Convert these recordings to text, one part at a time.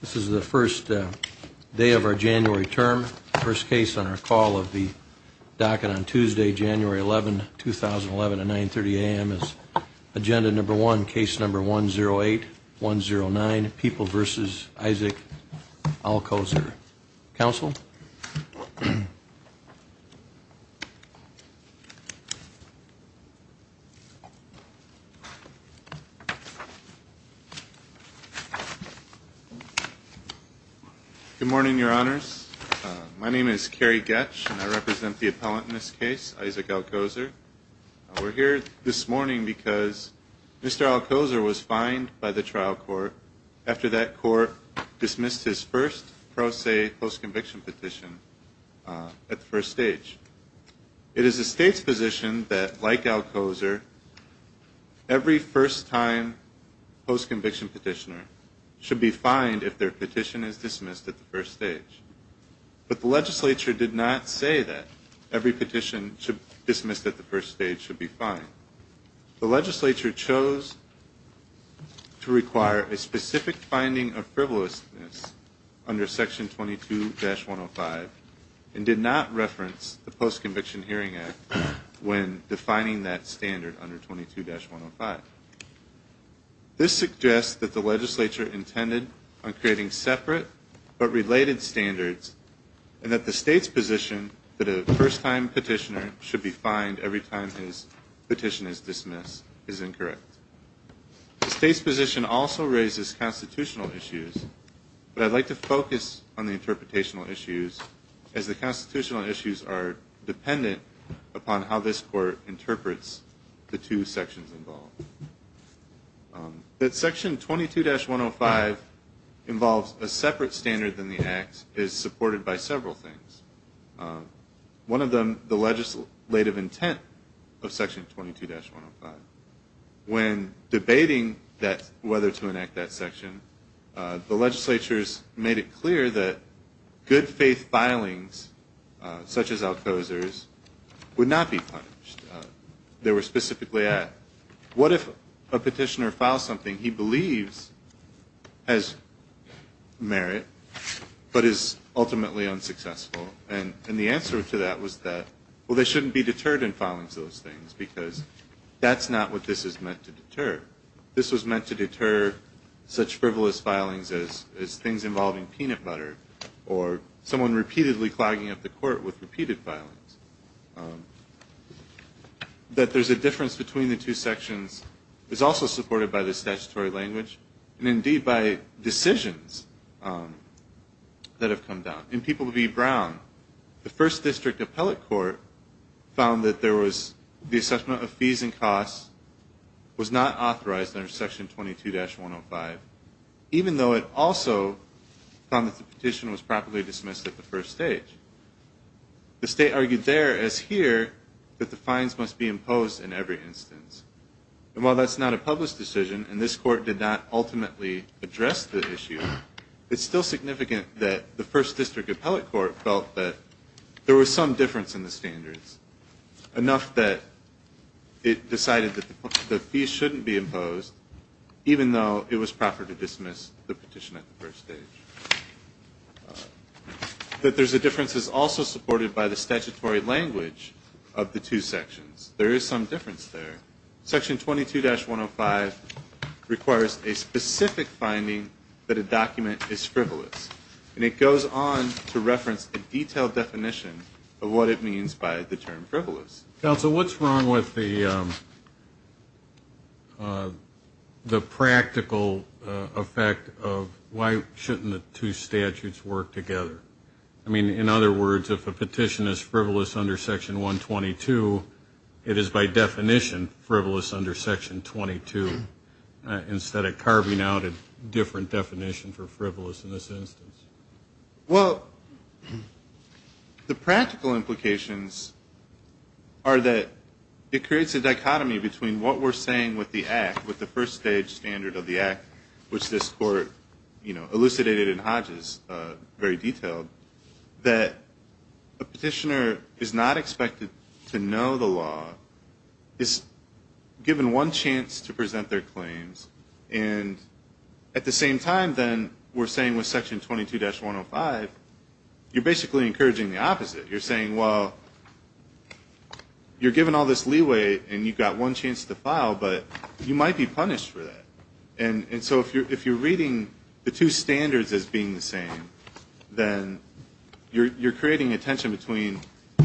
This is the first day of our January term. The first case on our call of the docket on Tuesday, January 11, 2011 at 9.30 a.m. is agenda number one, case number 108109, People v. Isaac Alcozer. Counsel? Good morning, Your Honors. My name is Kerry Goetsch, and I represent the appellant in this case, Isaac Alcozer. We're here this morning because Mr. Alcozer was fined by the trial court after that court dismissed his first pro se postconviction petition at the first stage. It is the state's position that, like Alcozer, every first-time postconviction petitioner should be fined if their petition is dismissed at the first stage. But the legislature did not say that every petition dismissed at the first stage should be fined. The legislature chose to dismiss the postconviction hearing act when defining that standard under 22-105. This suggests that the legislature intended on creating separate but related standards, and that the state's position that a first-time petitioner should be fined every time his petition is dismissed is incorrect. The state's position also raises constitutional issues, but I'd like to focus on the interpretational issues as the constitutional issues are dependent upon how this court interprets the two sections involved. That section 22-105 involves a separate standard than the act is supported by several things. One of them, the legislative intent of section 22-105. When debating whether to enact that section, the petitioners, such as Alcozer's, would not be punished. They were specifically asked, what if a petitioner files something he believes has merit, but is ultimately unsuccessful? And the answer to that was that, well, they shouldn't be deterred in filing those things, because that's not what this is meant to deter. This was meant to deter such frivolous filings as things involving peanut butter, or someone repeatedly clogging up the court with a repeated filings. That there's a difference between the two sections is also supported by the statutory language, and indeed by decisions that have come down. In People v. Brown, the first district appellate court found that the assessment of fees and costs was not authorized under section 22-105, even though it also found that the petition was properly dismissed at the first stage. The state argued there, as here, that the fines must be imposed in every instance. And while that's not a published decision, and this court did not ultimately address the issue, it's still significant that the first district appellate court felt that there was some difference in the standards, enough that it decided that the fees shouldn't be imposed, even though it was approved by the petition at the first stage. That there's a difference is also supported by the statutory language of the two sections. There is some difference there. Section 22-105 requires a specific finding that a document is frivolous, and it goes on to reference a detailed definition of what it means by the term frivolous. Counsel, what's wrong with the practical effect of why shouldn't the two statutes work together? I mean, in other words, if a petition is frivolous under section 122, it is by definition frivolous under section 22, instead of carving out a different definition for frivolous in this instance. Well, the practical implications are that it creates a dichotomy between what we're saying with the act, with the first stage standard of the act, which this court elucidated in Hodges, very detailed, that a petitioner is not expected to know the law, is given one chance to present their claims, and at the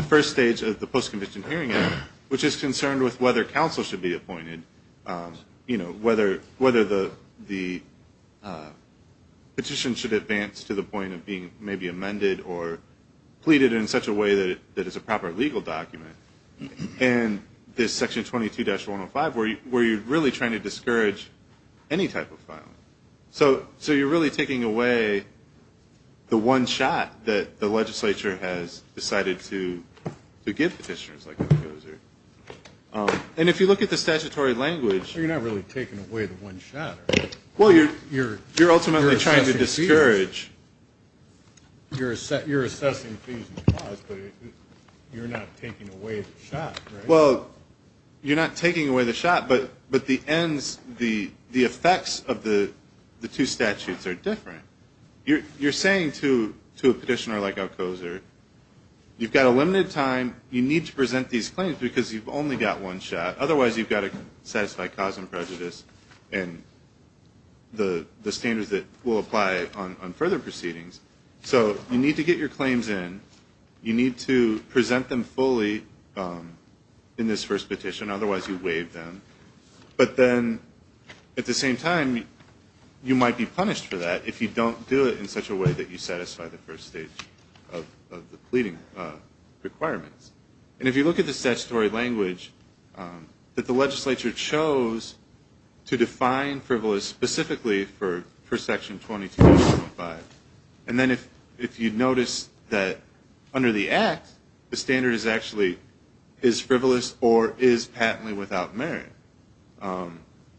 first stage of the post-conviction hearing, which is concerned with whether counsel should be appointed, whether the petition should advance to the point of being maybe amended or pleaded in such a way that it's a proper legal document, and this section 22-105, where you're really trying to discourage any type of violence. So you're really taking away the one shot that the legislature has decided to give petitioners, like it goes here. And if you look at the statutory language You're not really taking away the one shot. You're assessing fees and costs, but you're not taking away the shot, right? Well, you're not taking away the shot, but the ends, the effects of the two statutes are different. You're saying to a petitioner, like it goes here, you've got a limited time, you need to present these claims because you've only got one shot. Otherwise, you've got to satisfy cause and prejudice, and the standards that will apply on further proceedings. So you need to get your claims in. You need to present them fully in this first petition. Otherwise, you waive them. But then, at the same time, you might be punished for that if you don't do it in such a way that you satisfy the first stage of the pleading requirements. And if you look at the statutory language that the legislature chose to define frivolous specifically for section 22-105, it's not that you don't satisfy the first stage of the petition. It's that you don't satisfy the first stage of the petition. And then if you notice that under the Act, the standard is actually is frivolous or is patently without merit.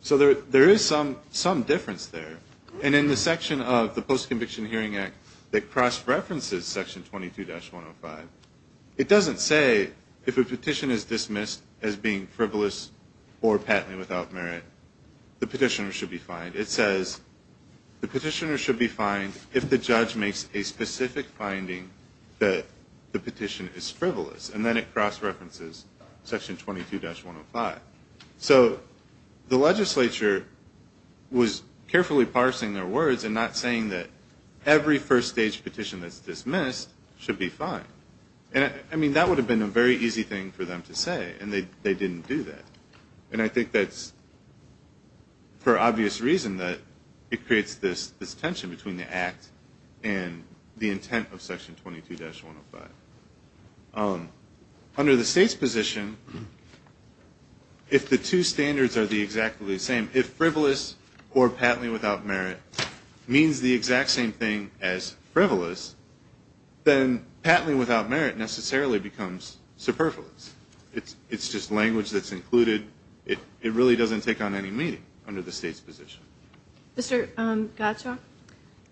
So there is some difference there. And in the section of the Post-Conviction Hearing Act that cross-references section 22-105, it doesn't say if a petition is dismissed as being frivolous or patently without merit, the petitioner should be fined. It says the petitioner should be fined if the judge makes a specific finding that the petition is frivolous. And then it cross-references section 22-105. So the legislature was carefully parsing their words and not saying that every first stage petition that's dismissed should be fined. And I mean, that would have been a very easy thing for them to say. And they didn't do that. And I think that's for obvious reason that it creates this tension between the legislature and the legislature. And I think that's for obvious reason that it creates this tension between the Act and the intent of section 22-105. Under the State's position, if the two standards are the exactly same, if frivolous or patently without merit means the exact same thing as frivolous, then patently without merit necessarily becomes superfluous. It's just language that's included. It really doesn't take on any meaning under the State's position. Mr. Gottschalk,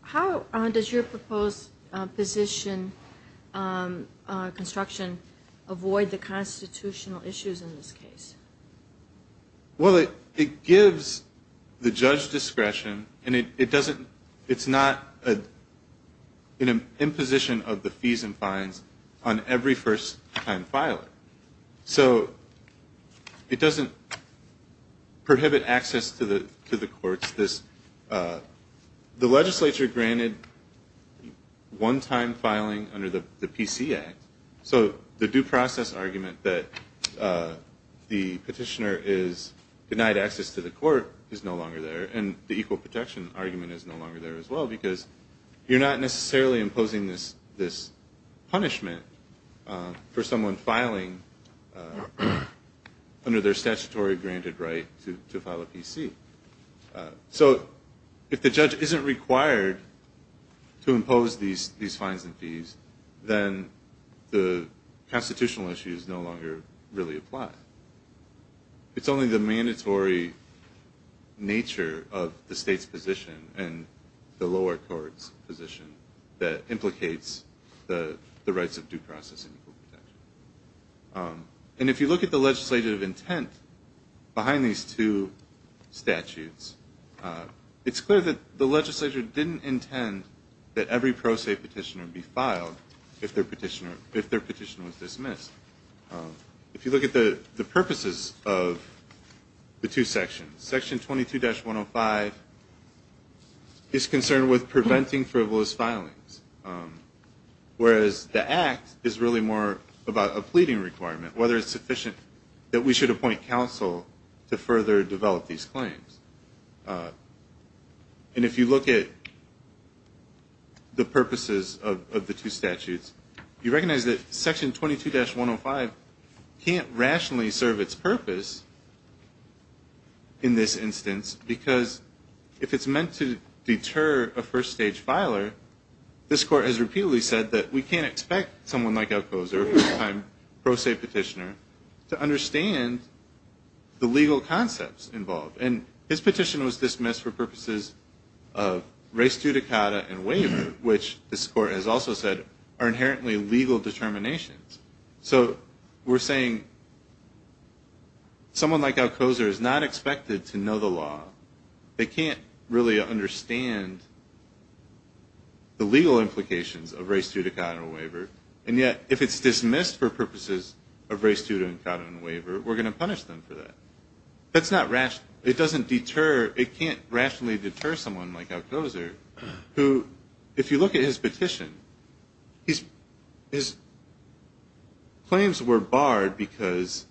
how does your proposed position, construction, avoid the constitutional issues in this case? Well, it gives the judge discretion and it doesn't, it's not an imposition of the fees and fines on every first-time filer. So it doesn't prohibit access to the courts and the equal protection argument is no longer there as well because you're not necessarily imposing this punishment for someone filing under their jurisdiction. So if the judge isn't required to impose these fines and fees, then the constitutional issues no longer really apply. It's only the mandatory nature of the State's position and the lower court's position that implicates the rights of due process and equal protection. And if you look at the legislative intent behind these two statutes, it's clear that the legislature didn't intend that every pro se petitioner be filed if their petitioner was dismissed. If you look at the purposes of the two sections, section 22-105 is concerned with preventing frivolous filings, whereas the legislature is concerned that we should appoint counsel to further develop these claims. And if you look at the purposes of the two statutes, you recognize that section 22-105 can't rationally serve its purpose in this instance because if it's meant to deter a first-stage filer, this court has to understand the legal concepts involved. And this petition was dismissed for purposes of res judicata and waiver, which this court has also said are inherently legal determinations. So we're saying someone like Alcoser is not expected to know the law. They can't really understand the legal concepts involved. And if we're going to punish them for that, that's not rational. It can't rationally deter someone like Alcoser who, if you look at his petition, his claims were barred because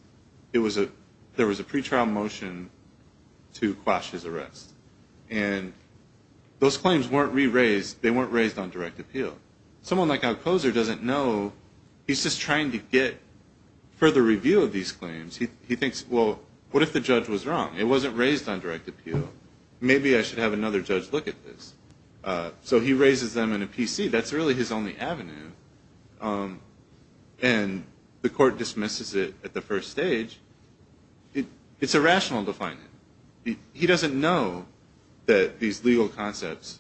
there was a pretrial motion to quash his arrest. And those claims weren't raised on direct appeal. Someone like Alcoser doesn't know. He's just trying to get further review of these claims. He thinks, well, what if the judge was wrong? It wasn't raised on direct appeal. Maybe I should have another judge look at this. So he raises them in a PC. That's really his only avenue. And the court dismisses it at the first stage. It's irrational to fine him. He doesn't know that these legal concepts,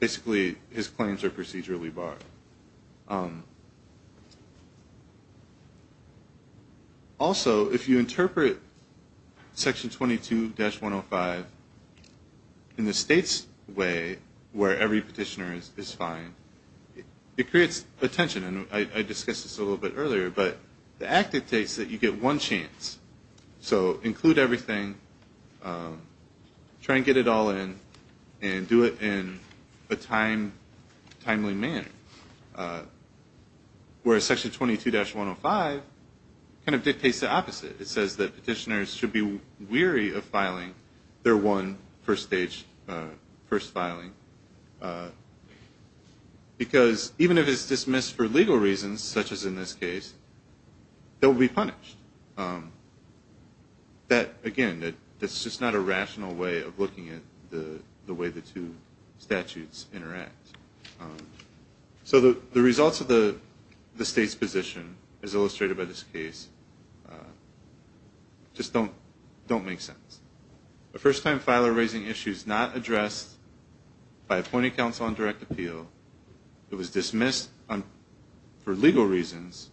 basically his claims are procedurally barred. And so he's trying to get further review of these claims. Also, if you interpret Section 22-105 in the states way where every petitioner is fined, it creates a tension. And I discussed this a little bit earlier. But the act dictates that you get one chance. So include everything. Try and get it all in. And do it in a timely manner. So if you're fined, you get one chance. Whereas Section 22-105 kind of dictates the opposite. It says that petitioners should be weary of filing their one first filing. Because even if it's dismissed for legal reasons, such as in this case, they'll be punished. Again, that's just not a rational way of looking at the way the two statutes interact. So the results of the state's position, as illustrated by this case, just don't make sense. The first time filer raising issues not addressed by appointing counsel on direct appeal, it was dismissed for legal reasons,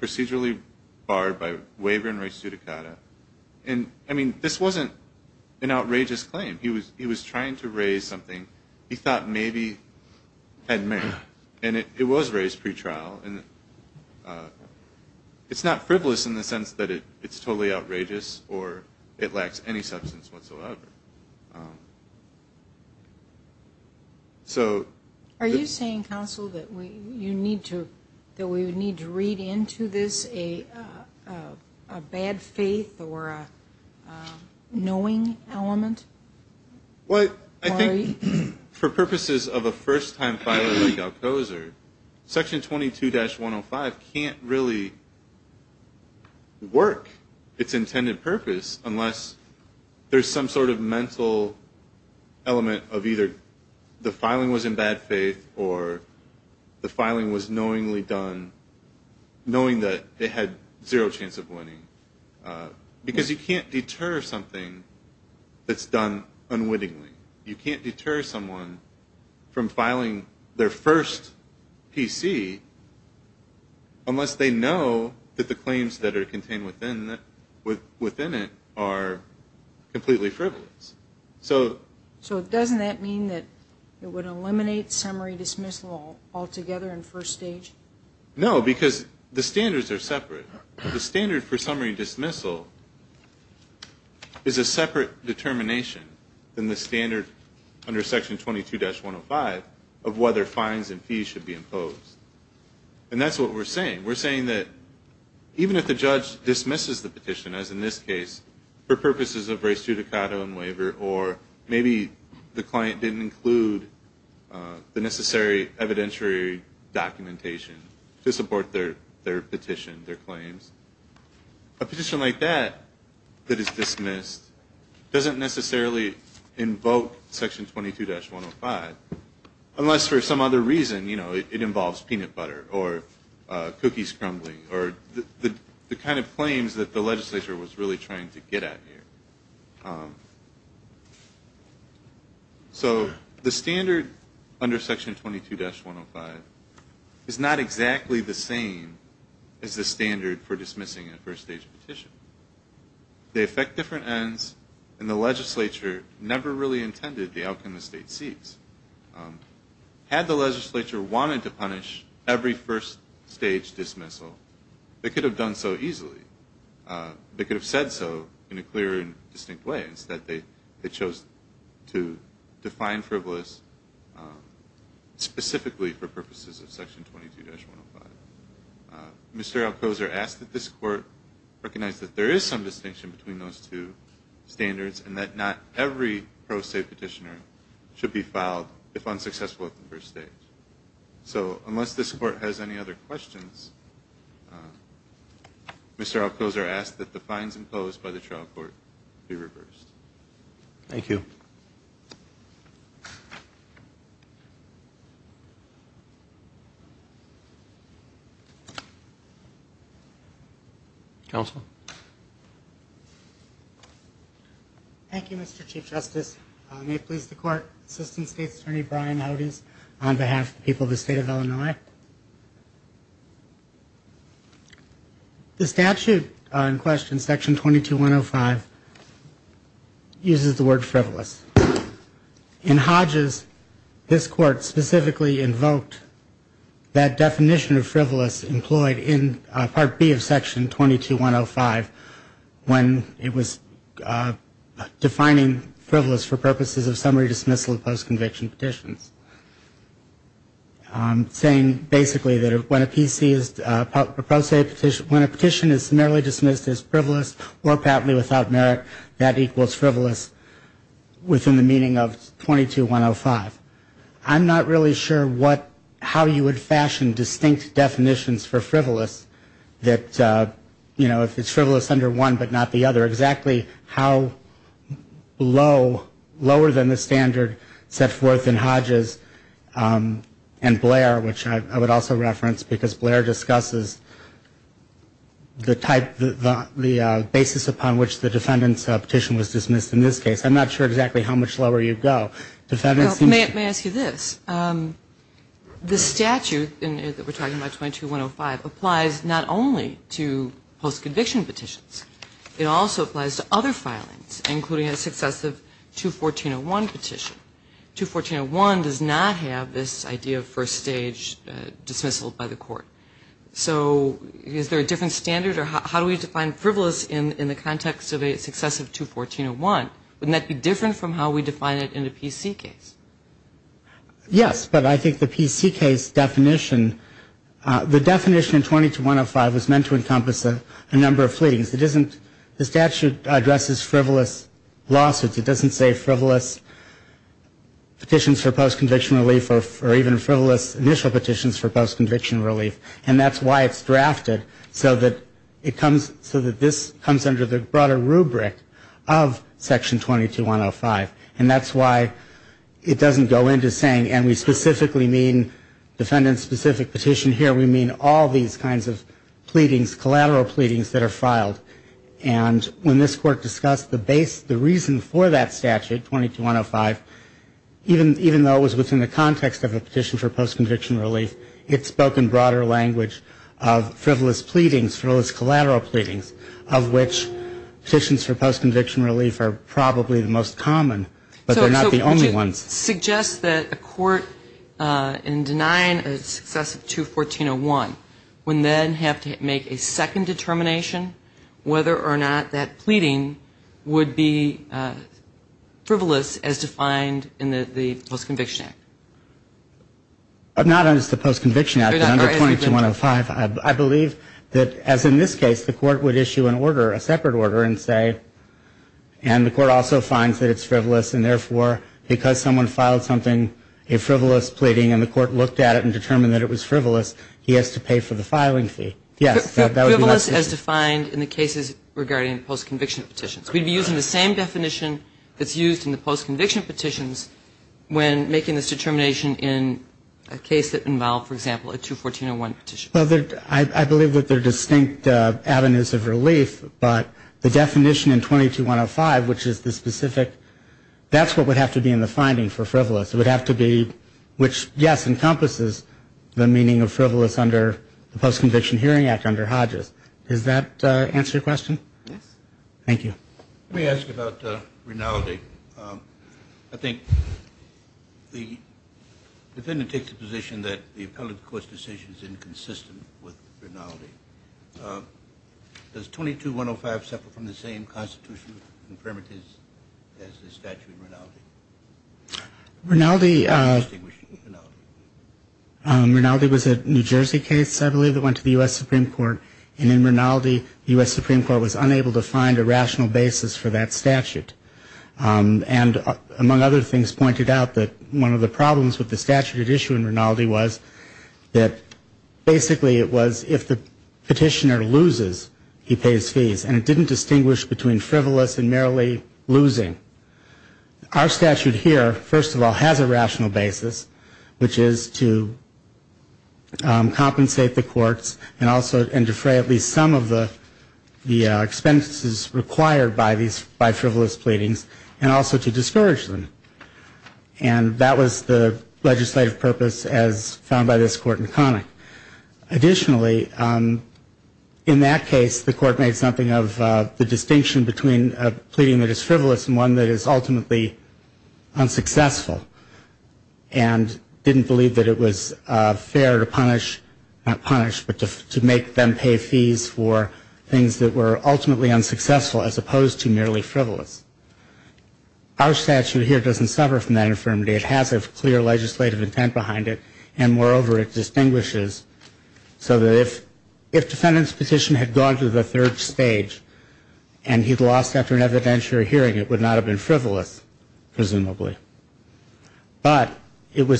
procedurally barred by waiver and res judicata. And I mean, this wasn't an outrageous claim. He was trying to raise something he thought maybe had merit. And it was raised pretrial. And it's not frivolous in the sense that it's totally outrageous or it lacks any substance whatsoever. So... Are you saying, counsel, that we would need to read into this a bad faith or a no-brainer? No-brainer. No-brainer. No-brainer. No-brainer. No-brainer. No-brainer. No-brainer. No-brainer. No-brainer. Is there a knowing element? Well, I think for purposes of a first-time filer like Alcoser, Section 22-105 can't really work its intended purpose unless there's some sort of mental element of either the filing was in bad faith or the filing was knowingly done, knowing that it had zero chance of winning. Because you can't deter something from filing that's done unwittingly. You can't deter someone from filing their first PC unless they know that the claims that are contained within it are completely frivolous. So... So doesn't that mean that it would eliminate summary dismissal altogether in first stage? No, because the standards are separate. The standard for summary dismissal is a separate determination than the standard under Section 22-105 of whether fines and fees should be imposed. And that's what we're saying. We're saying that even if the judge dismisses the petition, as in this case, for purposes of res judicata and waiver, or maybe the client didn't include the necessary evidentiary documentation to support their petition, their claims, a petition like that that is dismissed would be dismissed. So the standard under Section 22-105 doesn't necessarily invoke Section 22-105 unless for some other reason. You know, it involves peanut butter or cookies crumbling or the kind of claims that the legislature was really trying to get at here. So the standard under Section 22-105 is not exactly the same as the standard for dismissing a first stage petition. They affect different ends. They affect different standards. And the legislature never really intended the outcome the state seeks. Had the legislature wanted to punish every first stage dismissal, they could have done so easily. They could have said so in a clear and distinct way. Instead, they chose to define frivolous specifically for purposes of Section 22-105. Mr. Alcoser asked that this Court recognize that there is some distinction between those two standards and that not every pro se petitioner should be filed if unsuccessful at the first stage. So unless this Court has any other questions, Mr. Alcoser asked that the fines imposed by the trial court be reversed. Thank you. Thank you, Mr. Chief Justice. May it please the Court, Assistant State's Attorney Brian Audeze on behalf of the people of the state of Illinois. The statute in question, Section 22-105, uses the word frivolous. In high court, the word frivolous is used to refer to the definition of frivolous. Mr. Audeze, this Court specifically invoked that definition of frivolous employed in Part B of Section 22-105 when it was defining frivolous for purposes of summary dismissal of post-conviction petitions. Saying basically that when a PC is pro se, when a petition is merely dismissed as frivolous or partly without merit, that equals frivolous within the meaning of 22-105. That's the definition of frivolous in Section 22-105. I'm not really sure what, how you would fashion distinct definitions for frivolous that, you know, if it's frivolous under one but not the other, exactly how low, lower than the standard set forth in Hodges and Blair, which I would also reference because Blair discusses the type, the basis upon which the defendant's petition was dismissed in this case. I'm not sure exactly how much lower you'd go. The defendant seems to May I ask you this? The statute that we're talking about, 22-105, applies not only to post-conviction petitions. It also applies to other filings, including a successive 214-01 petition. 214-01 does not have this idea of first stage dismissal by the court. So is there a different standard? Or how do we define frivolous in the context of a successive 214-01? Wouldn't that be different from how we define frivolous in a PC case? Yes, but I think the PC case definition, the definition in 22-105 was meant to encompass a number of filings. It isn't, the statute addresses frivolous lawsuits. It doesn't say frivolous petitions for post-conviction relief or even frivolous initial petitions for post-conviction relief. And that's why it's drafted so that it comes, so that this comes under the broader rubric of Section 22-105. And that's why it doesn't go into saying, and we specifically mean defendant-specific petition here, we mean all these kinds of pleadings, collateral pleadings that are filed. And when this Court discussed the reason for that statute, 22-105, even though it was within the context of a petition for post-conviction relief, it spoke in broader language of frivolous pleadings, frivolous collateral pleadings, of which petitions for post-conviction relief are probably the most common. And that's why it doesn't go into saying, but they're not the only ones. So would you suggest that a court in denying a success of 214-01 would then have to make a second determination whether or not that pleading would be frivolous as defined in the Post-Conviction Act? Not as the Post-Conviction Act, but under 22-105. I believe that, as in this case, the Court would issue an order, a separate order, and say, and the Court would issue an order for, because someone filed something, a frivolous pleading, and the Court looked at it and determined that it was frivolous, he has to pay for the filing fee. Yes, that would be my position. Frivolous as defined in the cases regarding post-conviction petitions. We'd be using the same definition that's used in the post-conviction petitions when making this determination in a case that involved, for example, a 214-01 petition. Well, I believe that there are distinct avenues of relief, but the definition in 22-105, which is the specific, that's what we're talking about, that's what would have to be in the finding for frivolous. It would have to be, which, yes, encompasses the meaning of frivolous under the Post-Conviction Hearing Act under Hodges. Does that answer your question? Yes. Thank you. Let me ask about Rinaldi. I think the defendant takes the position that the appellate court's decision is inconsistent with Rinaldi. Does 22-105 suffer from the same constitutional imperatives as the statute in Rinaldi? Rinaldi was a New Jersey case, I believe, that went to the U.S. Supreme Court, and in Rinaldi, the U.S. Supreme Court was unable to find a rational basis for that statute. And among other things, pointed out that one of the problems with the statute at issue in Rinaldi was that basically it was if the petitioner loses, he pays fees. And it didn't go to the Supreme Court. It went to the Supreme Court. And the Supreme Court didn't distinguish between frivolous and merely losing. Our statute here, first of all, has a rational basis, which is to compensate the courts and also to defray at least some of the expenses required by frivolous pleadings, and also to discourage them. And that was the legislative purpose as found by this court in Connick. Additionally, in that case, the court made something of the distinction between a pleading that is frivolous and one that is ultimately unsuccessful, and didn't believe that it was fair to punish, not punish, but to make them pay fees for things that were ultimately unsuccessful as opposed to merely frivolous. Our statute here doesn't suffer from that infirmity. It has a clear legislative intent behind it, and moreover, it was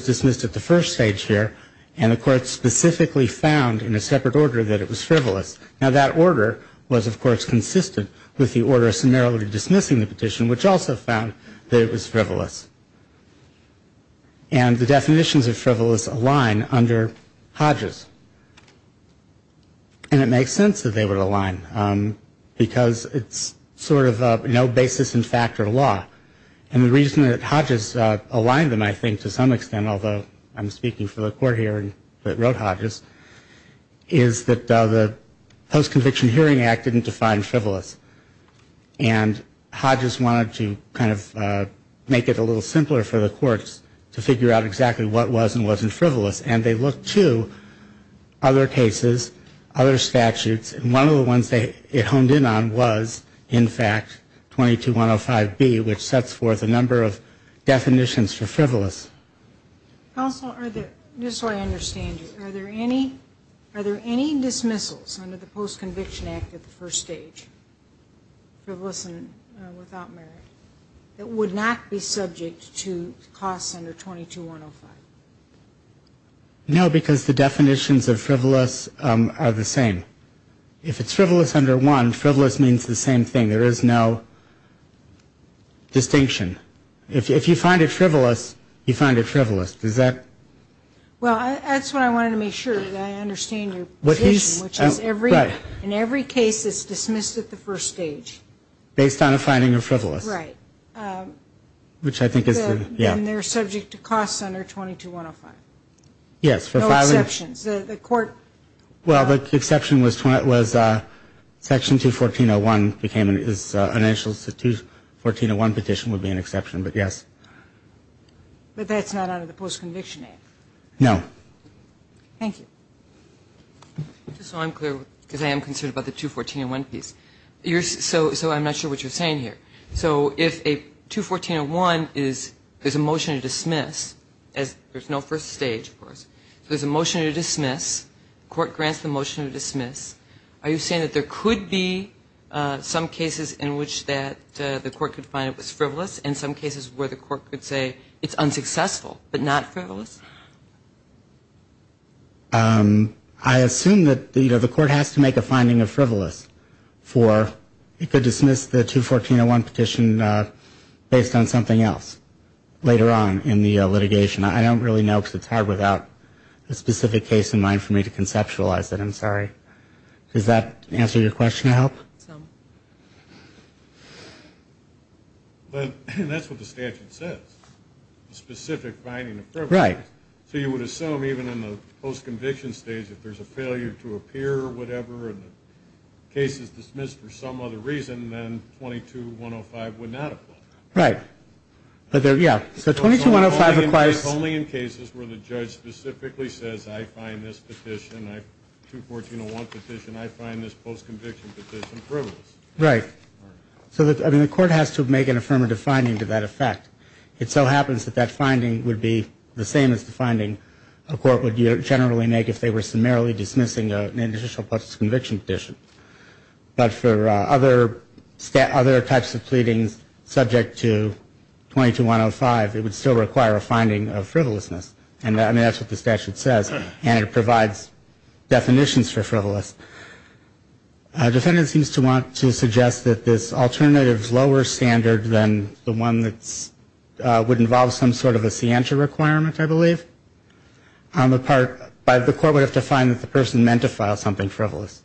dismissed at the first stage here, and the court specifically found in a separate order that it was frivolous. Now, that order was, of course, consistent with the order of summarily dismissing the petition, which also found that it was frivolous. And the definitions of frivolous align under Hodges. And it makes sense that they would align. The definition of frivolous would be that the petitioner was frivolous, and the petitioner was frivolous. And the reason that Hodges aligned them, I think, to some extent, although I'm speaking for the court here that wrote Hodges, is that the Post-Conviction Hearing Act didn't define frivolous. And Hodges wanted to kind of make it a little simpler for the courts to figure out exactly what was and wasn't frivolous. And they looked to other cases, other statutes, and one of the ones that they honed in on was, in fact, 22-105-B, which sets forth a number of definitions for frivolous. MS. GOTTLIEB Also, just so I understand you, are there any dismissals under the Post-Conviction Act at the first stage, frivolous and without merit, that would not be subject to costs under 22-105? MR. GARGANO No, because the definitions of frivolous are the same. If it's frivolous under 1, frivolous means the same thing. There is no distinction. If you find it frivolous, you find it frivolous. Does that... MS. GOTTLIEB Well, that's what I wanted to make sure, that I understand your position, which is in every case it's dismissed at the first stage. MR. GARGANO Based on a finding of frivolous. MS. GOTTLIEB Right. And they're subject to costs under 22-105. MR. GARGANO Yes. MS. GOTTLIEB No exceptions. The Court... MR. GARGANO Well, the exception was Section 214-01 became an initial, so the 214-01 petition would be an exception, but yes. MS. GOTTLIEB But that's not under the Post-Conviction Act. MR. GARGANO No. MS. GOTTLIEB Thank you. MS. GOTTLIEB Just so I'm clear, because I am concerned about the 214-01 piece, so I'm not sure what you're saying here. So if a 214-01 is dismissed, there's a motion to dismiss, there's no first stage, of course, there's a motion to dismiss, the Court grants the motion to dismiss, are you saying that there could be some cases in which that the Court could find it was frivolous and some cases where the Court could say it's unsuccessful, but not frivolous? MR. GARGANO I assume that, you know, the Court has to make a finding of frivolous for it could dismiss the 214-01 petition based on something else. Later on in the litigation, I don't really know, because it's hard without a specific case in mind for me to conceptualize it, I'm sorry. Does that answer your question? MS. GOTTLIEB Some. MR. GARGANO But that's what the statute says, a specific finding of frivolous. MR. GOTTLIEB Right. MR. GARGANO So you would assume even in the post-conviction stage, if there's a failure to appear or whatever, and the case is dismissed for some other reason, then 22-105 would not apply. MR. GOTTLIEB Right. So 22-105 requires MR. GARGANO Only in cases where the judge specifically says, I find this petition, 214-01 petition, I find this post-conviction petition frivolous. MR. GOTTLIEB Right. So the Court has to make an affirmative finding to that effect. It so happens that that finding would be the same as the finding a court would generally make if they were summarily dismissing an initial post-conviction petition. But for other types of pleadings, subject to 22-105, it would still require a finding of frivolousness. And that's what the statute says. And it provides definitions for frivolous. A defendant seems to want to suggest that this alternative is lower standard than the one that would involve some sort of a scientia requirement, I believe. The Court would have to find that the person meant to file something frivolous.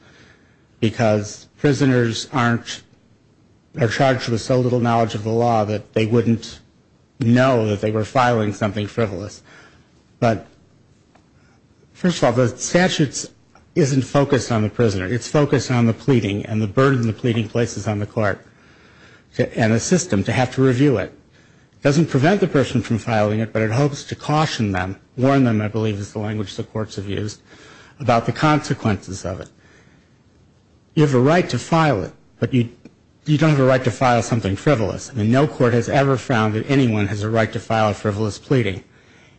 Because prisoners aren't charged with so little knowledge of the law that they wouldn't know that they were filing something frivolous. But first of all, the statute isn't focused on the prisoner. It's focused on the pleading and the burden the pleading places on the court and the system to have to review it. It doesn't prevent the person from filing it, but it hopes to caution them, warn them, I believe is the language the courts have used, about the consequences of it. You have a right to file it, but you don't have a right to dismiss it. You don't have a right to dismiss it. You have a right to file something frivolous. And no court has ever found that anyone has a right to file a frivolous pleading.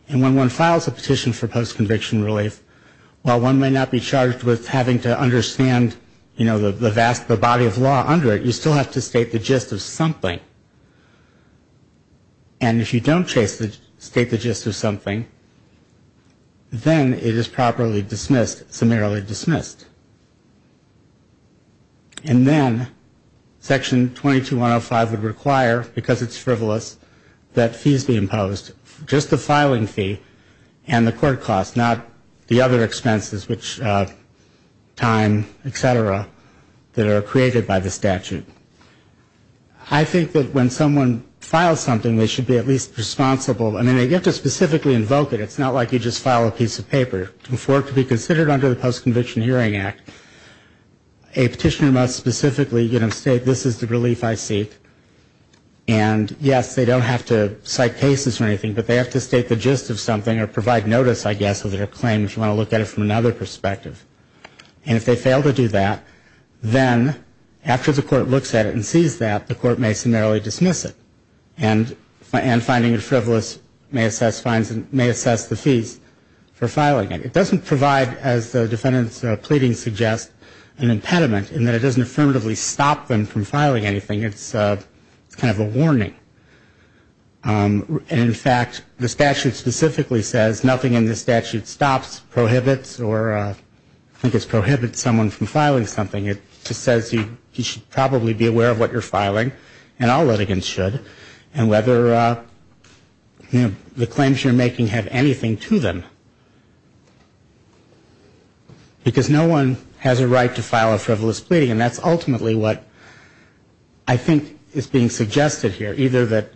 And when one files a petition for post-conviction relief, while one may not be charged with having to understand, you know, the vast body of law under it, you still have to state the gist of something. And if you don't state the gist of something, then it is properly dismissed, summarily dismissed. And then Section 22-105 would require, because it's frivolous, that fees be imposed, just the filing fee and the court cost, not the other expenses, which time, et cetera, that are created by the statute. I think that when someone files something, they should be at least responsible. I mean, they get to specifically invoke it. It's not like you just file a piece of paper. For it to be considered under the Post-Conviction Hearing Act, a petitioner must specifically, you know, state, this is the relief I seek. And yes, they don't have to cite cases or anything, but they have to state the gist of something or provide notice, I guess, of their claim, if you want to look at it from another perspective. And if they fail to do that, then after the court looks at it and sees that, the court may summarily dismiss it. And finding it frivolous may assess fines and may assess the fees for filing it. It doesn't provide, as the defined by the statute, a penalty, but the defendant's pleading suggests an impediment in that it doesn't affirmatively stop them from filing anything. It's kind of a warning. And in fact, the statute specifically says nothing in the statute stops, prohibits, or I think it's prohibits someone from filing something. It just says you should probably be aware of what you're filing, and all litigants should, and whether, you know, the claims you're making have anything to them. Because no one has a right to file a frivolous pleading, and that's ultimately what I think is being suggested here. Either that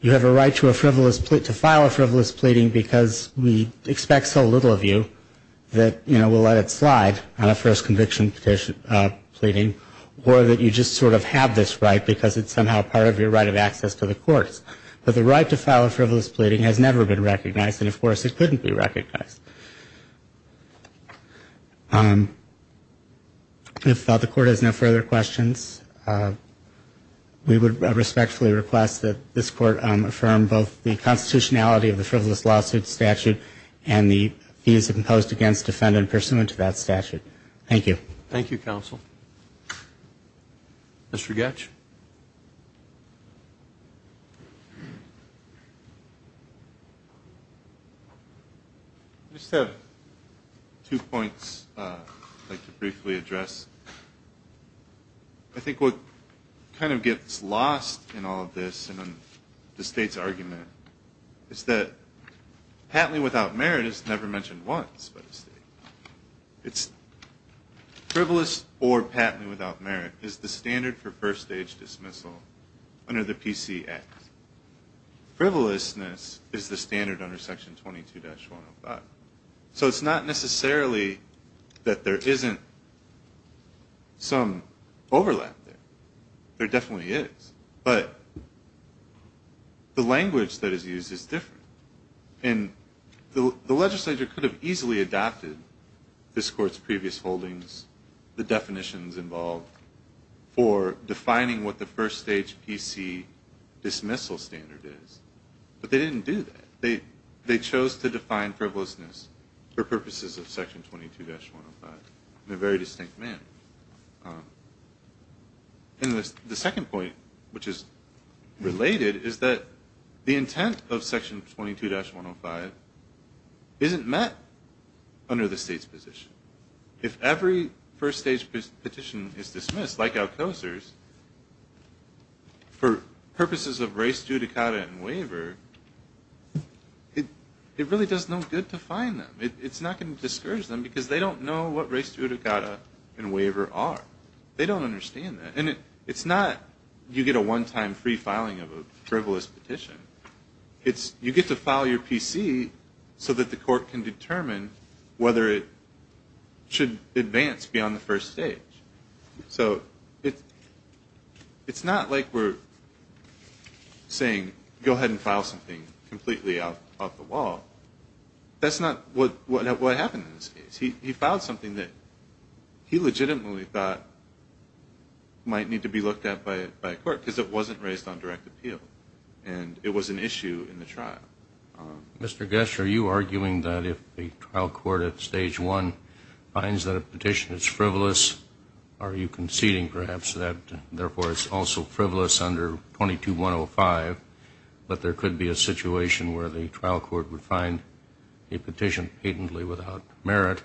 you have a right to file a frivolous pleading because we expect so little of you that, you know, we'll let it slide on a first conviction pleading, or that you just sort of have this right because it's somehow part of your right of access to the courts. But the right to file a frivolous pleading has never been recognized, and of course, it couldn't be recognized. If the court has no further questions, we would respectfully request that this court affirm both the constitutionality of the frivolous lawsuit statute and the fees imposed against defendant pursuant to that statute. Thank you. Thank you, counsel. Mr. Goetsch? I just have two points I'd like to briefly address. I think what kind of gets lost in all of this and in the state's argument is that patently without merit is never mentioned once by the state. It's frivolous or patently without merit is the standard for first age dismissal under the PCX. Frivolousness is the standard under section 22-105. So it's not necessarily that there isn't some overlap there. There definitely is. But the language that is used is different. And the legislature could have easily adopted this court's previous holdings, the definitions involved, for defining frivolous pleading as a frivolous lawsuit. And I think the legislature did not do that. In fact, it was the legislature defining what the first-stage PC dismissal standard is, but they didn't do that. They chose to define frivolousness for purposes of section 22-105 in a very distinct manner. And the second point which is related is that the intent of section 22-105 isn't met under the state's position. If every first-stage petition is dismissed, like Alcocer's, for purposes of res judicata and waiver, it really does no good to fine them. It's not going to discourage them because they don't know what res judicata and waiver are. They don't understand that. And it's not you get a one-time free filing of a frivolous petition. You get to file your PC so that the court can determine whether it should advance beyond the first-stage. So it's not like we're saying go ahead and file something completely off the wall. That's not what happened in this case. He filed something that he legitimately thought might need to be looked at by a court because it wasn't raised on direct appeal. And it was an issue in the trial. Mr. Gess, are you arguing that if the trial court at stage one finds that a petition is frivolous, that it should be dismissed? Are you conceding, perhaps, that therefore it's also frivolous under 22-105, that there could be a situation where the trial court would find a petition patently without merit,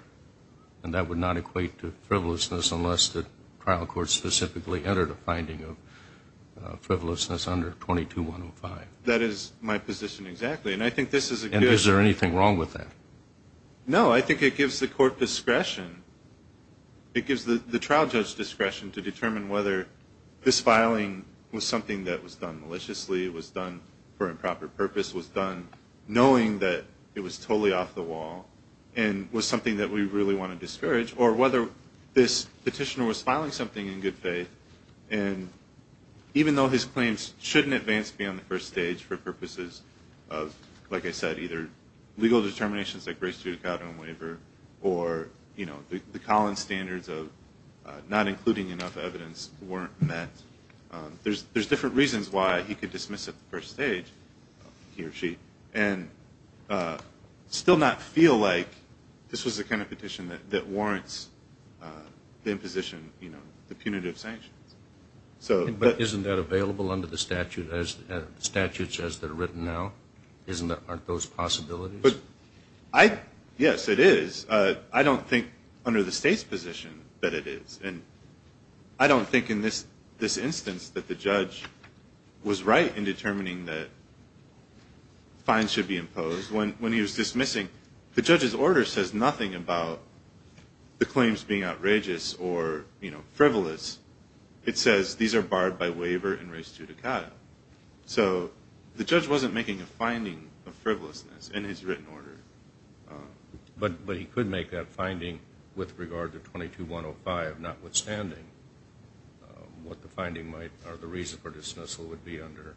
and that would not equate to frivolousness unless the trial court specifically entered a finding of frivolousness under 22-105? That is my position exactly. And I think this is a good one. And is there anything wrong with that? No. I think it gives the court discretion. It gives the trial judge discretion to determine whether this filing was something that was done maliciously, was done for improper purpose, was done knowing that it was totally off the wall, and was something that we really want to discourage, or whether this petitioner was filing something in good faith. And even though his claims shouldn't advance beyond the first stage for purposes of, like I said, either legal determinations like racial discrimination, or criminal discrimination, or a race-judicata waiver, or the Collins standards of not including enough evidence weren't met, there's different reasons why he could dismiss at the first stage, he or she, and still not feel like this was the kind of petition that warrants the imposition, the punitive sanctions. But isn't that available under the statutes as they're written now? Aren't those possibilities? Yes, it is. I don't think under the state's position that it is. And I don't think in this instance that the judge was right in determining that fines should be imposed. When he was dismissing, the judge's order says nothing about the claims being outrageous or frivolous. It says these are barred by waiver and race-judicata. So the judge wasn't making a finding of frivolousness in his written order. But he could make that finding with regard to 22-105, notwithstanding what the finding might or the reason for dismissal would be under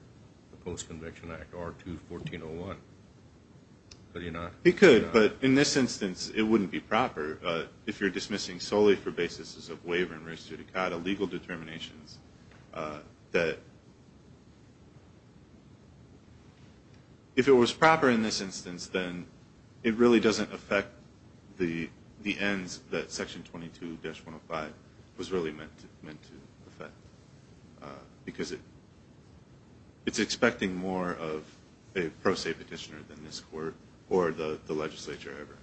the Post-Conviction Act or 214-01. Could he not? He could. But in this instance, it wouldn't be proper. If you're dismissing solely for basis of waiver and race-judicata, legal determinations, that if it was proper in this instance, then the judge would not be able to make that finding. It really doesn't affect the ends that Section 22-105 was really meant to affect. Because it's expecting more of a pro se petitioner than this Court or the legislature ever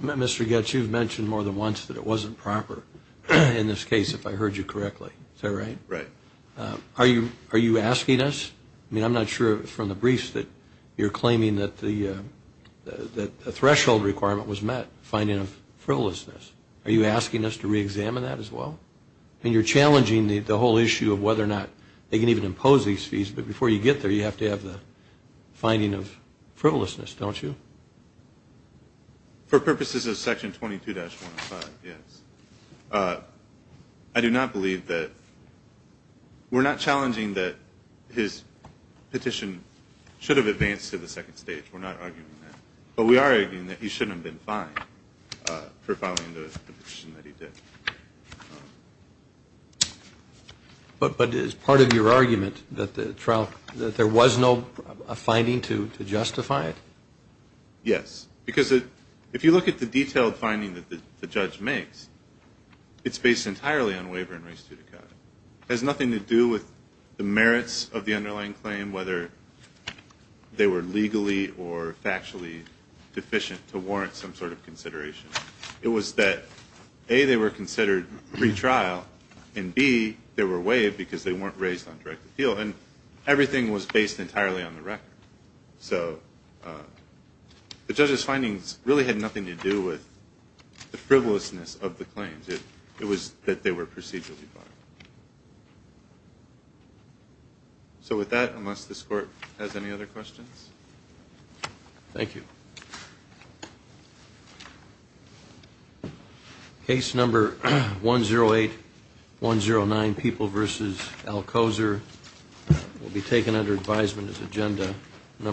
intended. Mr. Goetz, you've mentioned more than once that it wasn't proper in this case, if I heard you correctly. Is that right? Right. Are you asking us? I mean, I'm not sure from the briefs that you're claiming that the threshold requirement was met, finding of frivolousness. Are you asking us to re-examine that as well? I mean, you're challenging the whole issue of whether or not they can even impose these fees. But before you get there, you have to have the finding of frivolousness, don't you? For purposes of Section 22-105, yes. I do not believe that there is a provision in Section 22-105 that states that the petitioner should have advanced to the second stage. We're not arguing that. But we are arguing that he shouldn't have been fined for filing the petition that he did. But is part of your argument that there was no finding to justify it? Yes. Because if you look at the detailed finding that the judge makes, it's based entirely on waiver and res judicata. It has nothing to do with the merits of the underlying claim, whether they were legally or factually deficient to warrant some sort of consideration. It was that, A, they were considered retrial, and, B, they were waived because they weren't raised on direct appeal. And everything was based entirely on the record. So the judge's findings really had nothing to do with the frivolousness of the claims. It was that they were procedurally fined. So with that, unless this Court has any other questions? Thank you. Case number 108-109, People v. Alcoser, will be taken under advisement as Agenda No. 5.